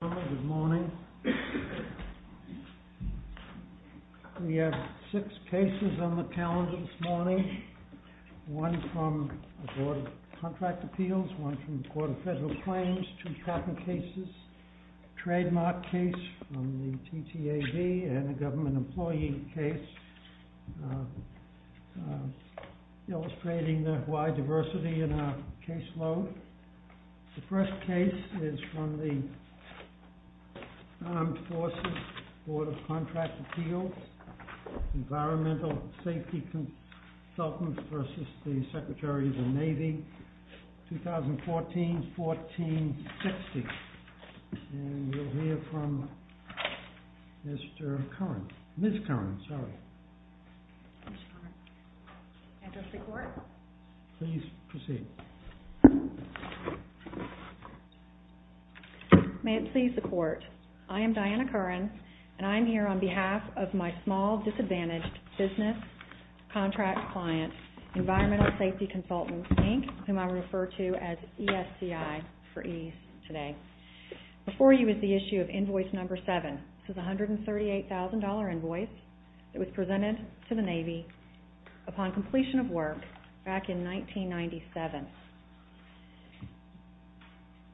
Good morning. We have six cases on the calendar this morning. One from the Board of Contract Appeals, one from the Court of Federal Claims, two tracking cases, a trademark case from the TTAB and a government employee case illustrating the wide diversity in our caseload. The first case is from the Armed Forces, Board of Contract Appeals, Environmental Safety Consultants v. Secretary of the Navy, 2014-14-60. And we'll hear from Ms. Curran, sorry. May it please the Court, I am Diana Curran and I'm here on behalf of my small, disadvantaged business contract client, Environmental Safety Consultants, Inc., whom I refer to as ESCI for ease today. Before you is the issue of Invoice No. 7. This is a $138,000 invoice that was presented to the Navy upon completion of work back in 1997.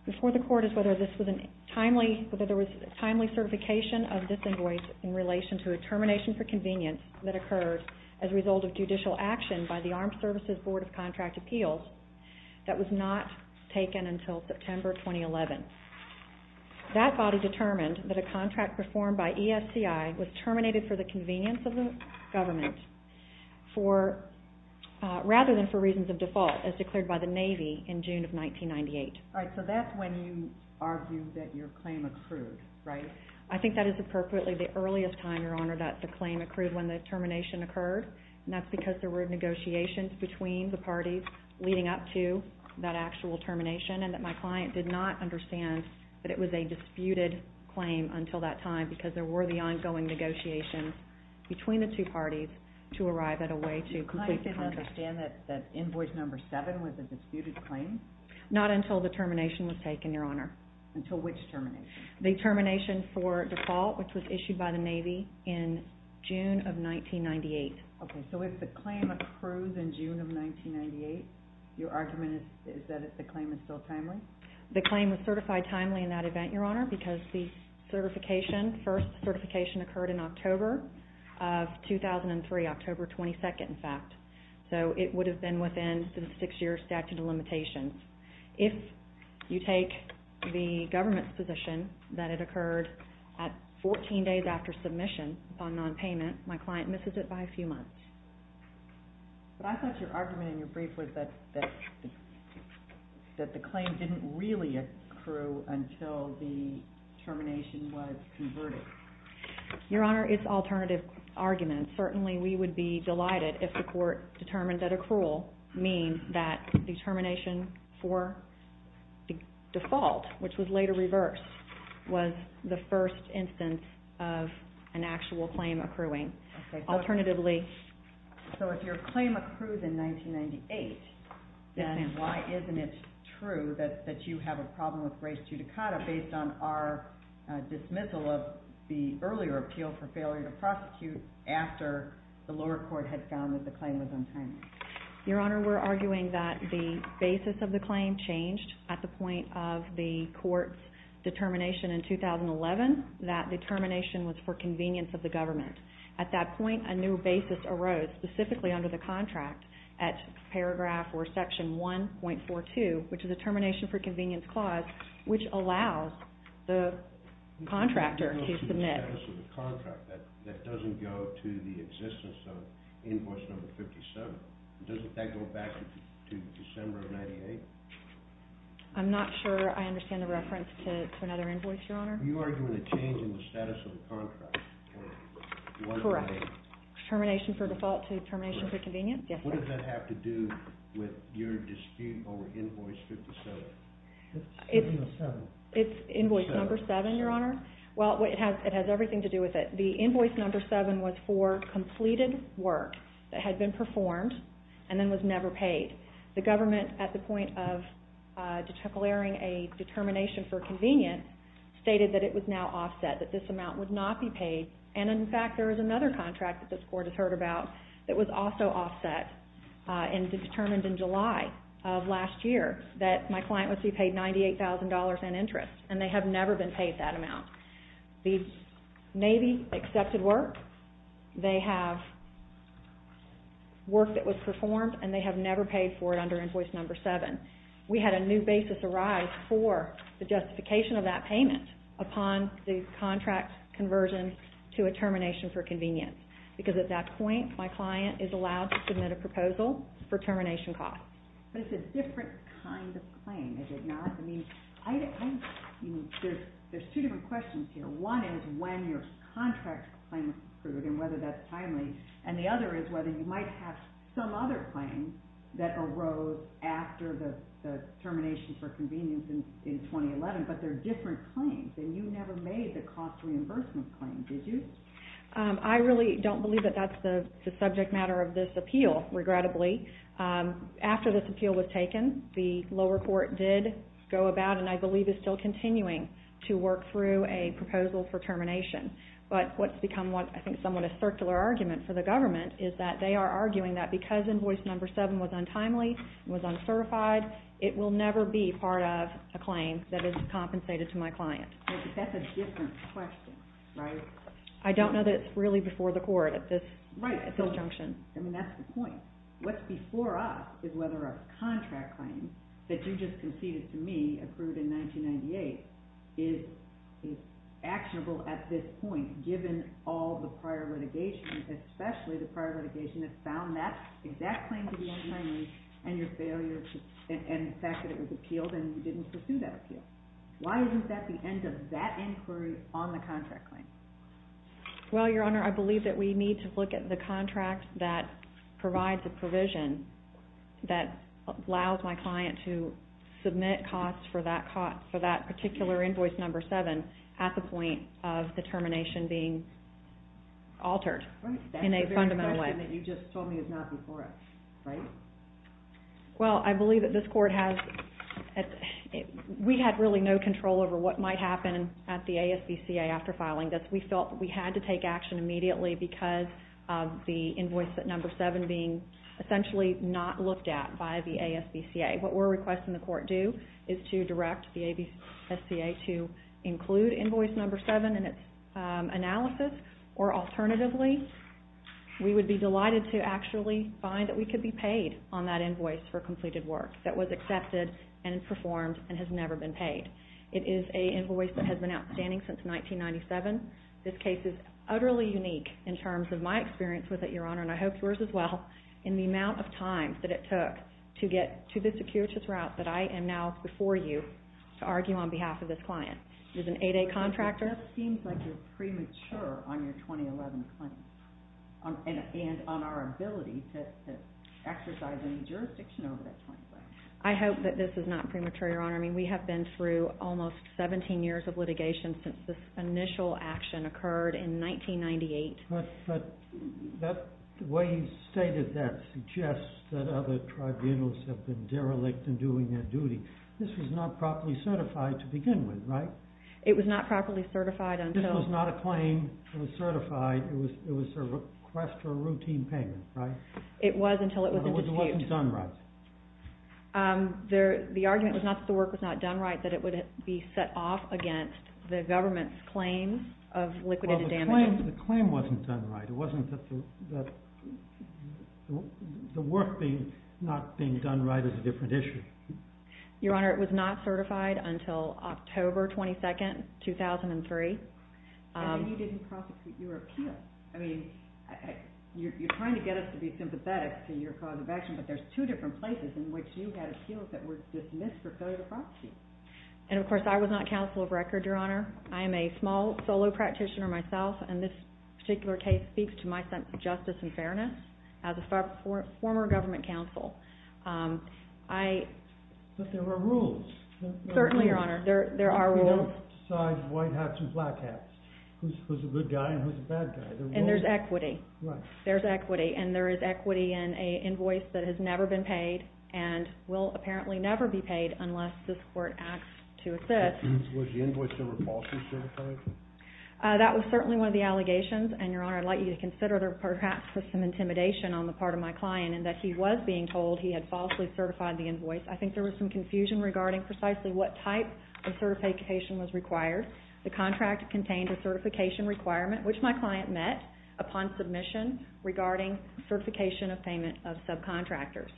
Before the Court is whether this was a timely certification of this invoice in relation to a termination for convenience that occurred as a result of judicial action by the Armed Services Board of Contract Appeals that was not taken until September 2011. That body determined that a contract performed by ESCI was terminated for the convenience of the government rather than for reasons of default as declared by the Navy in June of 1998. So that's when you argue that your claim accrued, right? I think that is appropriately the earliest time, Your Honor, that the claim accrued when the termination occurred and that's because there were negotiations between the parties leading up to that actual termination and that my client did not understand that it was a disputed claim until that time because there were the ongoing negotiations between the two parties to arrive at a way to complete the contract. The client didn't understand that Invoice No. 7 was a disputed claim? Not until the termination was taken, Your Honor. Until which termination? The termination for default which was issued by the Navy in June of 1998. Okay, so if the claim accrues in June of 1998, your argument is that the claim is still timely? The claim was certified timely in that event, Your Honor, because the certification, first certification occurred in October of 2003, October 22nd, in fact. So it would have been within the six-year statute of limitations. If you take the government's position that it occurred at 14 days after submission upon nonpayment, my client misses it by a few months. But I thought your argument in your brief was that the claim didn't really accrue until the termination was converted. Your Honor, it's alternative arguments. Certainly, we would be delighted if the court determined that accrual means that the termination for the default, which was later reversed, was the first instance of an actual claim accruing. Alternatively... So if your claim accrues in 1998, then why isn't it true that you have a problem with grace judicata based on our dismissal of the earlier appeal for failure to prosecute after the lower court had found that the claim was untimely? Your Honor, we're arguing that the basis of the claim changed at the point of the court's determination in 2011. That determination was for convenience of the government. At that point, a new basis arose specifically under the contract at paragraph or section 1.42, which is a termination for convenience clause, which allows the contractor to submit... to the existence of invoice number 57. Doesn't that go back to December of 98? I'm not sure I understand the reference to another invoice, Your Honor. You're arguing a change in the status of the contract. Correct. Termination for default to termination for convenience? Yes. What does that have to do with your dispute over invoice 57? It's invoice number 7, Your Honor. Well, it has everything to do with it. The invoice number 7 was for completed work that had been performed and then was never paid. The government, at the point of declaring a determination for convenience, stated that it was now offset, that this amount would not be paid. In fact, there is another contract that this court has heard about that was also offset and determined in July of last year that my client was to be paid $98,000 in they have work that was performed and they have never paid for it under invoice number 7. We had a new basis arise for the justification of that payment upon the contract conversion to a termination for convenience because at that point, my client is allowed to submit a proposal for termination cost. But it's a different kind of claim, is it not? I mean, there's two different questions here. One is when your contract claim was approved and whether that's timely, and the other is whether you might have some other claims that arose after the termination for convenience in 2011, but they're different claims and you never made the cost reimbursement claim, did you? I really don't believe that that's the subject matter of this appeal, regrettably. After this appeal was taken, the lower court did go about and I believe is still continuing to work through a proposal for termination. But what's become what I think is somewhat a circular argument for the government is that they are arguing that because invoice number 7 was untimely, was uncertified, it will never be part of a claim that is compensated to my client. That's a different question, right? I don't know that it's really before the court at this junction. I mean, that's the point. What's before us is whether a contract claim that you just conceded to me, approved in 1998, is actionable at this point, given all the prior litigation, especially the prior litigation that found that exact claim to be untimely, and your failure and the fact that it was appealed and you didn't pursue that appeal. Why isn't that the end of that inquiry on the contract claim? Well, Your Honor, I believe that we need to look at the contract that provides a provision that allows my client to submit costs for that particular invoice number 7 at the point of the termination being altered in a fundamental way. Right. That's the very question that you just told me is not before us, right? Well, I believe that this court has, we had really no control over what might happen at the ASVCA after filing this. We felt that we had to take action immediately because of the invoice number 7 being essentially not looked at by the ASVCA. What we're requesting the court do is to direct the ASVCA to include invoice number 7 in its analysis, or alternatively, we would be delighted to actually find that we could be paid on that invoice for completed work that was accepted and performed and has never been paid. It is an invoice that has been outstanding since 1997. This case is utterly unique in terms of my experience with it, Your Honor, and I hope yours as well, in the amount of time that it took to get to the securities route that I am now before you to argue on behalf of this client. He's an 8A contractor. That seems like you're premature on your 2011 claim and on our ability to exercise any jurisdiction over that claim. I hope that this is not premature, Your Honor. I mean, we have been through almost 17 years of litigation since this initial action occurred in 1998. But the way you stated that suggests that other tribunals have been derelict in doing their duty. This was not properly certified to begin with, right? It was not properly certified until... This was not a claim. It was certified. It was a request for a routine payment, right? It was until it was... It wasn't done right. The argument was not that the work was not done right, that it would be set off against the government's claims of liquidated damages. Well, the claim wasn't done right. It wasn't that the work not being done right is a different issue. Your Honor, it was not certified until October 22nd, 2003. And then you didn't prosecute your appeal. I mean, you're trying to get us to be sympathetic to your cause of action, but there's two different places in which you had appeals that were dismissed for federal proxy. And of course, I was not counsel of record, Your Honor. I am a small solo practitioner myself, and this particular case speaks to my sense of justice and fairness as a former government counsel. But there are rules. Certainly, Your Honor. There are rules. Besides white hats and black hats, who's a good guy and who's a bad guy? And there's equity. There's equity. And there is equity in an invoice that has never been paid and will apparently never be paid unless this Court acts to assist. Was the invoice ever falsely certified? That was certainly one of the allegations. And Your Honor, I'd like you to consider there perhaps was some intimidation on the part of my client in that he was being told he had falsely certified the invoice. I think there was some confusion regarding precisely what type of certification was required. The contract contained a certification requirement, which my client met upon submission regarding certification of payment of subcontractors.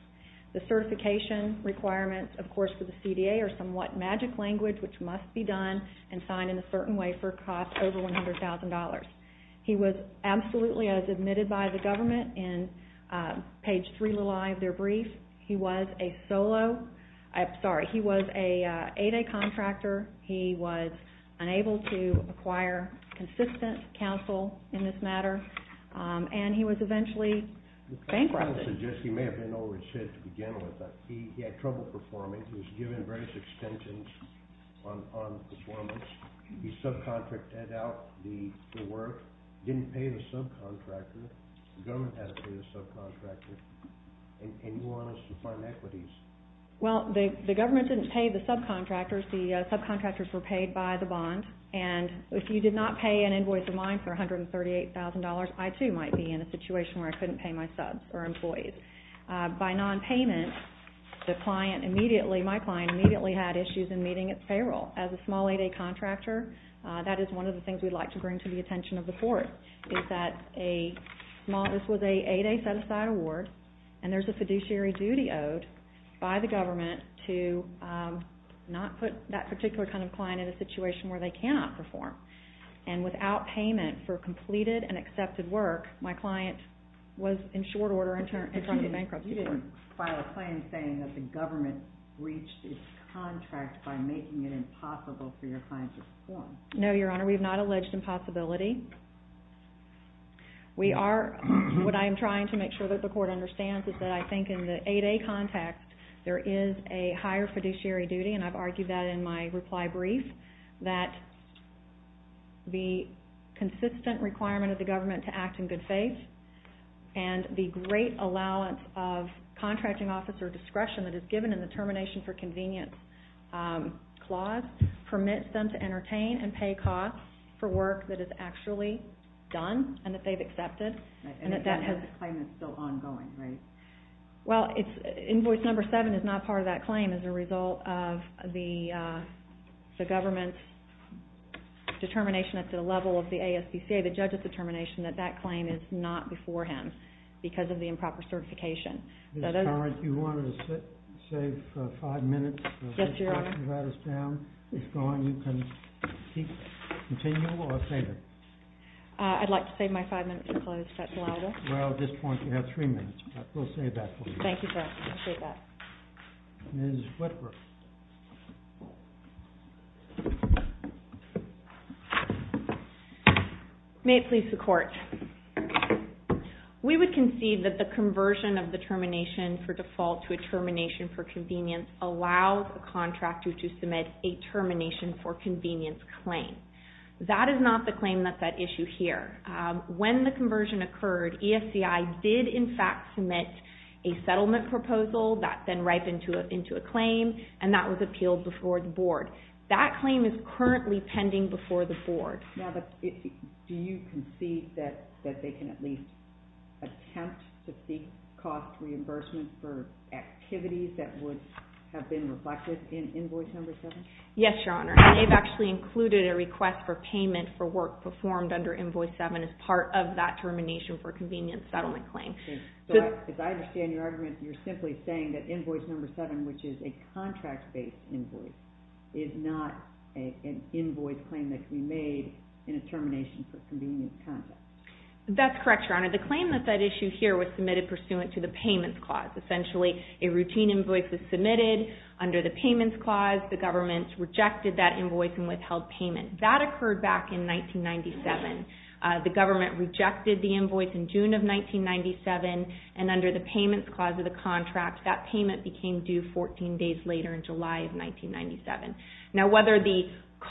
The certification requirements, of course, for the CDA are somewhat magic language, which must be done and signed in a certain way for a cost over $100,000. He was absolutely as admitted by the government in page 3 of their brief. He was a solo. I'm sorry. He was an 8A contractor. He was unable to acquire consistent counsel in this matter. And he was eventually bankrupted. I'm going to suggest he may have been over his head to begin with. He had trouble performing. He was given various extensions on performance. He subcontracted out the work, didn't pay the subcontractor. The government had to pay the subcontractor. And you want us to find equities. Well, the government didn't pay the subcontractors. The subcontractors were paid by the bond. And if you did not pay an invoice of mine for $138,000, I too might be in a situation where I couldn't pay my subs or employees. By nonpayment, my client immediately had issues in meeting its payroll. As a small 8A contractor, that is one of the things we'd like to bring to the attention of the by the government to not put that particular kind of client in a situation where they cannot perform. And without payment for completed and accepted work, my client was in short order in front of bankruptcy. You didn't file a claim saying that the government breached its contract by making it impossible for your client to perform. No, Your Honor. We have not alleged impossibility. We are, what I am trying to make sure that the court understands is that I think in the 8A context, there is a higher fiduciary duty, and I've argued that in my reply brief, that the consistent requirement of the government to act in good faith and the great allowance of contracting officer discretion that is given in the termination for convenience clause permits them to entertain and pay costs for work that is actually done and that they've Invoice number 7 is not part of that claim as a result of the government's determination at the level of the ASPCA, the judge's determination that that claim is not before him because of the improper certification. Ms. Curran, if you wanted to save five minutes. Yes, Your Honor. It's gone. You can continue or save it. I'd like to save my five minutes to close, if that's allowable. Well, at this point, you have three minutes. We'll save that for you. Thank you, Your Honor. I appreciate that. Ms. Whitworth. May it please the Court. We would concede that the conversion of the termination for default to a termination for convenience allows a contractor to submit a termination for convenience claim. That is not the claim that's at issue here. When the conversion occurred, ESCI did, in fact, submit a settlement proposal that then ripened into a claim, and that was appealed before the Board. That claim is currently pending before the Board. Do you concede that they can at least attempt to seek cost reimbursement for activities that would have been reflected in Invoice number 7? Yes, Your Honor. They've actually included a request for payment for work performed under settlement claim. Okay. So, as I understand your argument, you're simply saying that Invoice number 7, which is a contract-based invoice, is not an invoice claim that can be made in a termination for convenience context. That's correct, Your Honor. The claim that's at issue here was submitted pursuant to the Payments Clause. Essentially, a routine invoice is submitted. Under the Payments Clause, the government rejected that invoice and withheld payment. That occurred back in 1997. The government rejected the invoice in June of 1997, and under the Payments Clause of the contract, that payment became due 14 days later in July of 1997. Now, whether the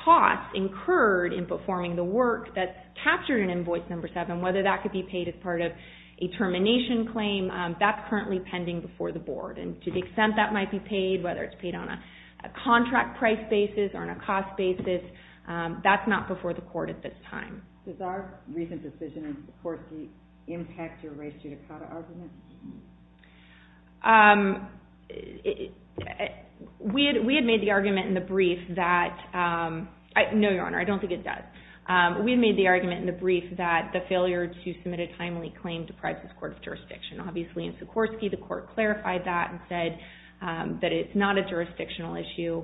cost incurred in performing the work that's captured in Invoice number 7, whether that could be paid as part of a termination claim, that's currently pending before the Board. To the extent that might be paid, whether it's paid on a contract price basis or on a cost basis, that's not before the Court at this time. Does our recent decision in Sikorsky impact your race judicata argument? We had made the argument in the brief that... No, Your Honor, I don't think it does. We made the argument in the brief that the failure to submit a timely claim deprives this Court of jurisdiction. Obviously, in Sikorsky, the Court clarified that and said that it's not a jurisdictional issue.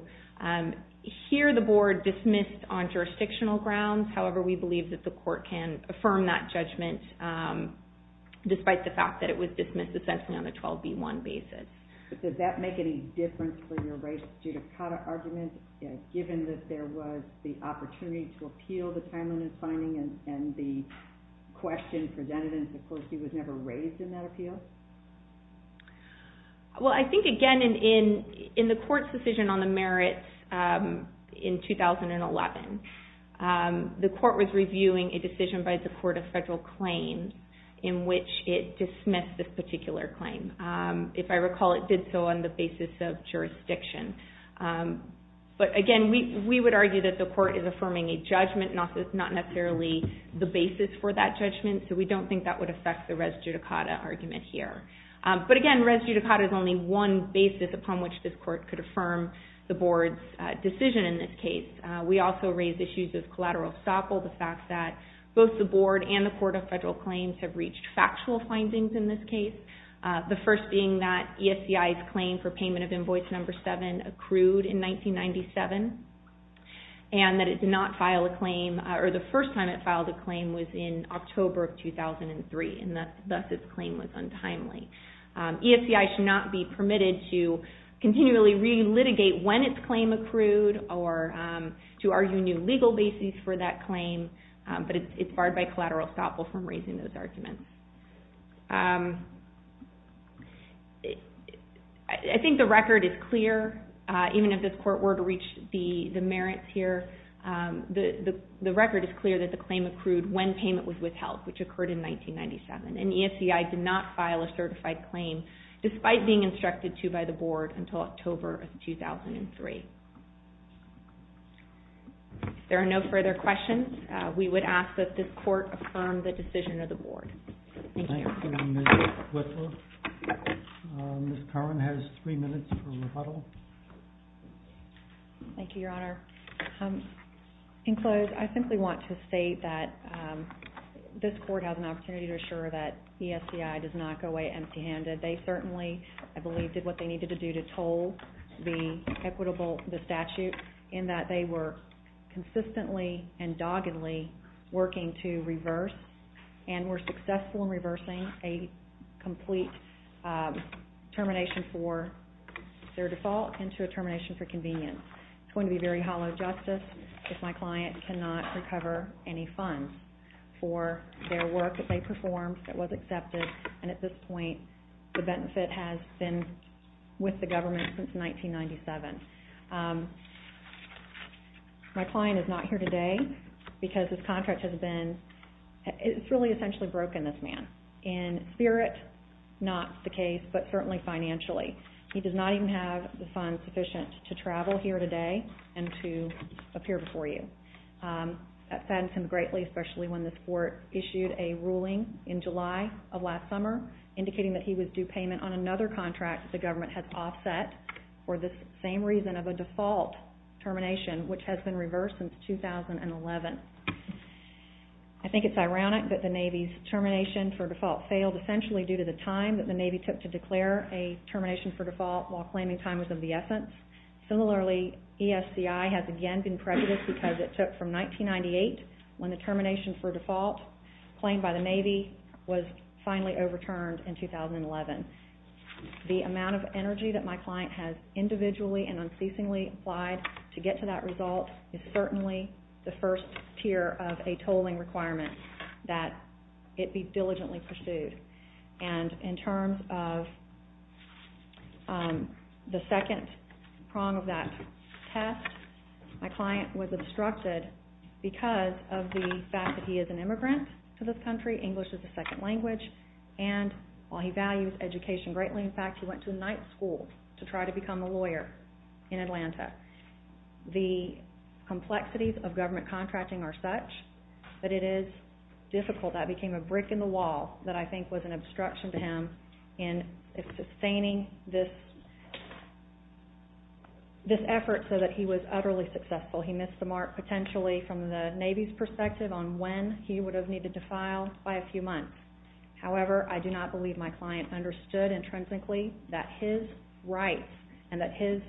Here, the Board dismissed on jurisdictional grounds. However, we believe that the Court can affirm that judgment, despite the fact that it was dismissed essentially on a 12B1 basis. Does that make any difference for your race judicata argument, given that there was the opportunity to appeal the timeliness finding and the question presented in Sikorsky was never raised in that appeal? I think, again, in the Court's decision on the merits in 2011, the Court was reviewing a decision by the Court of Federal Claims in which it dismissed this particular claim. If I recall, it did so on the basis of jurisdiction. Again, we would argue that the Court is affirming a judgment, not necessarily the basis for that judgment. We don't think that would affect the res judicata argument here. But again, res judicata is only one basis upon which this Court could affirm the Board's decision in this case. We also raise issues of collateral stoppel, the fact that both the Board and the Court of Federal Claims have reached factual findings in this case, the first being that ESCI's claim for payment of invoice number 7 accrued in 1997, and that it did not file a claim, or the first time it filed a claim was in October of 2003, and thus its claim was untimely. ESCI should not be permitted to continually re-litigate when its claim accrued or to argue new legal basis for that claim, but it's barred by collateral stoppel from raising those arguments. I think the record is clear, even if this Court were to reach the merits here, the record is clear that the claim accrued when payment was withheld, which occurred in 1997, and ESCI did not file a certified claim, despite being instructed to by the Board until October of 2003. If there are no further questions, we would ask that this Court affirm the decision of the Board. Thank you. Thank you, Ms. Whitlow. Ms. Carman has three minutes for rebuttal. Thank you, Your Honor. In close, I simply want to state that this Court has an opportunity to assure that ESCI does not go away empty-handed. They certainly, I believe, did what they needed to do to toll the equitable, the statute, in that they were consistently and doggedly working to reverse and were successful in reversing a complete termination for their fault and to a termination for convenience. It's going to be very hollow justice if my client cannot recover any funds for their work that they performed that was accepted, and at this point, the benefit has been with the government since 1997. My client is not here today because his contract has been, it's really essentially broken, this man, in spirit, not the case, but certainly financially. He does not even have the funds sufficient to travel here today and to appear before you. That saddens him greatly, especially when this Court issued a ruling in July of last summer indicating that he was due payment on another contract the government had offset for the same reason of a default termination, which has been reversed since 2011. I think it's ironic that the Navy's termination for default failed essentially due to the time that the Navy took to declare a termination for default while claiming time was of the essence. Similarly, ESCI has again been prejudiced because it took from 1998 when the termination for default claimed by the Navy was finally overturned in 2011. The amount of energy that my client has individually and unceasingly applied to get to that result is certainly the first tier of a tolling requirement that it be diligently pursued. And in terms of the second prong of that test, my client was obstructed because of the fact that he is an immigrant to this country, English is a second language, and while he values education greatly, in fact, he went to night school to try to become a lawyer in Atlanta. The complexities of government contracting are a brick in the wall that I think was an obstruction to him in sustaining this effort so that he was utterly successful. He missed the mark potentially from the Navy's perspective on when he would have needed to file by a few months. However, I do not believe my client understood intrinsically that his rights and that his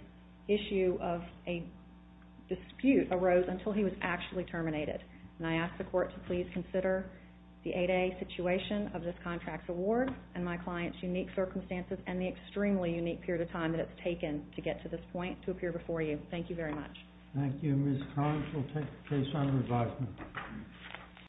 issue of a dispute arose until he was actually terminated. And I ask the court to please consider the 8A situation of this contract award and my client's unique circumstances and the extremely unique period of time that it's taken to get to this point to appear before you. Thank you very much. Thank you, Ms. Collins. We'll take the case on revisement.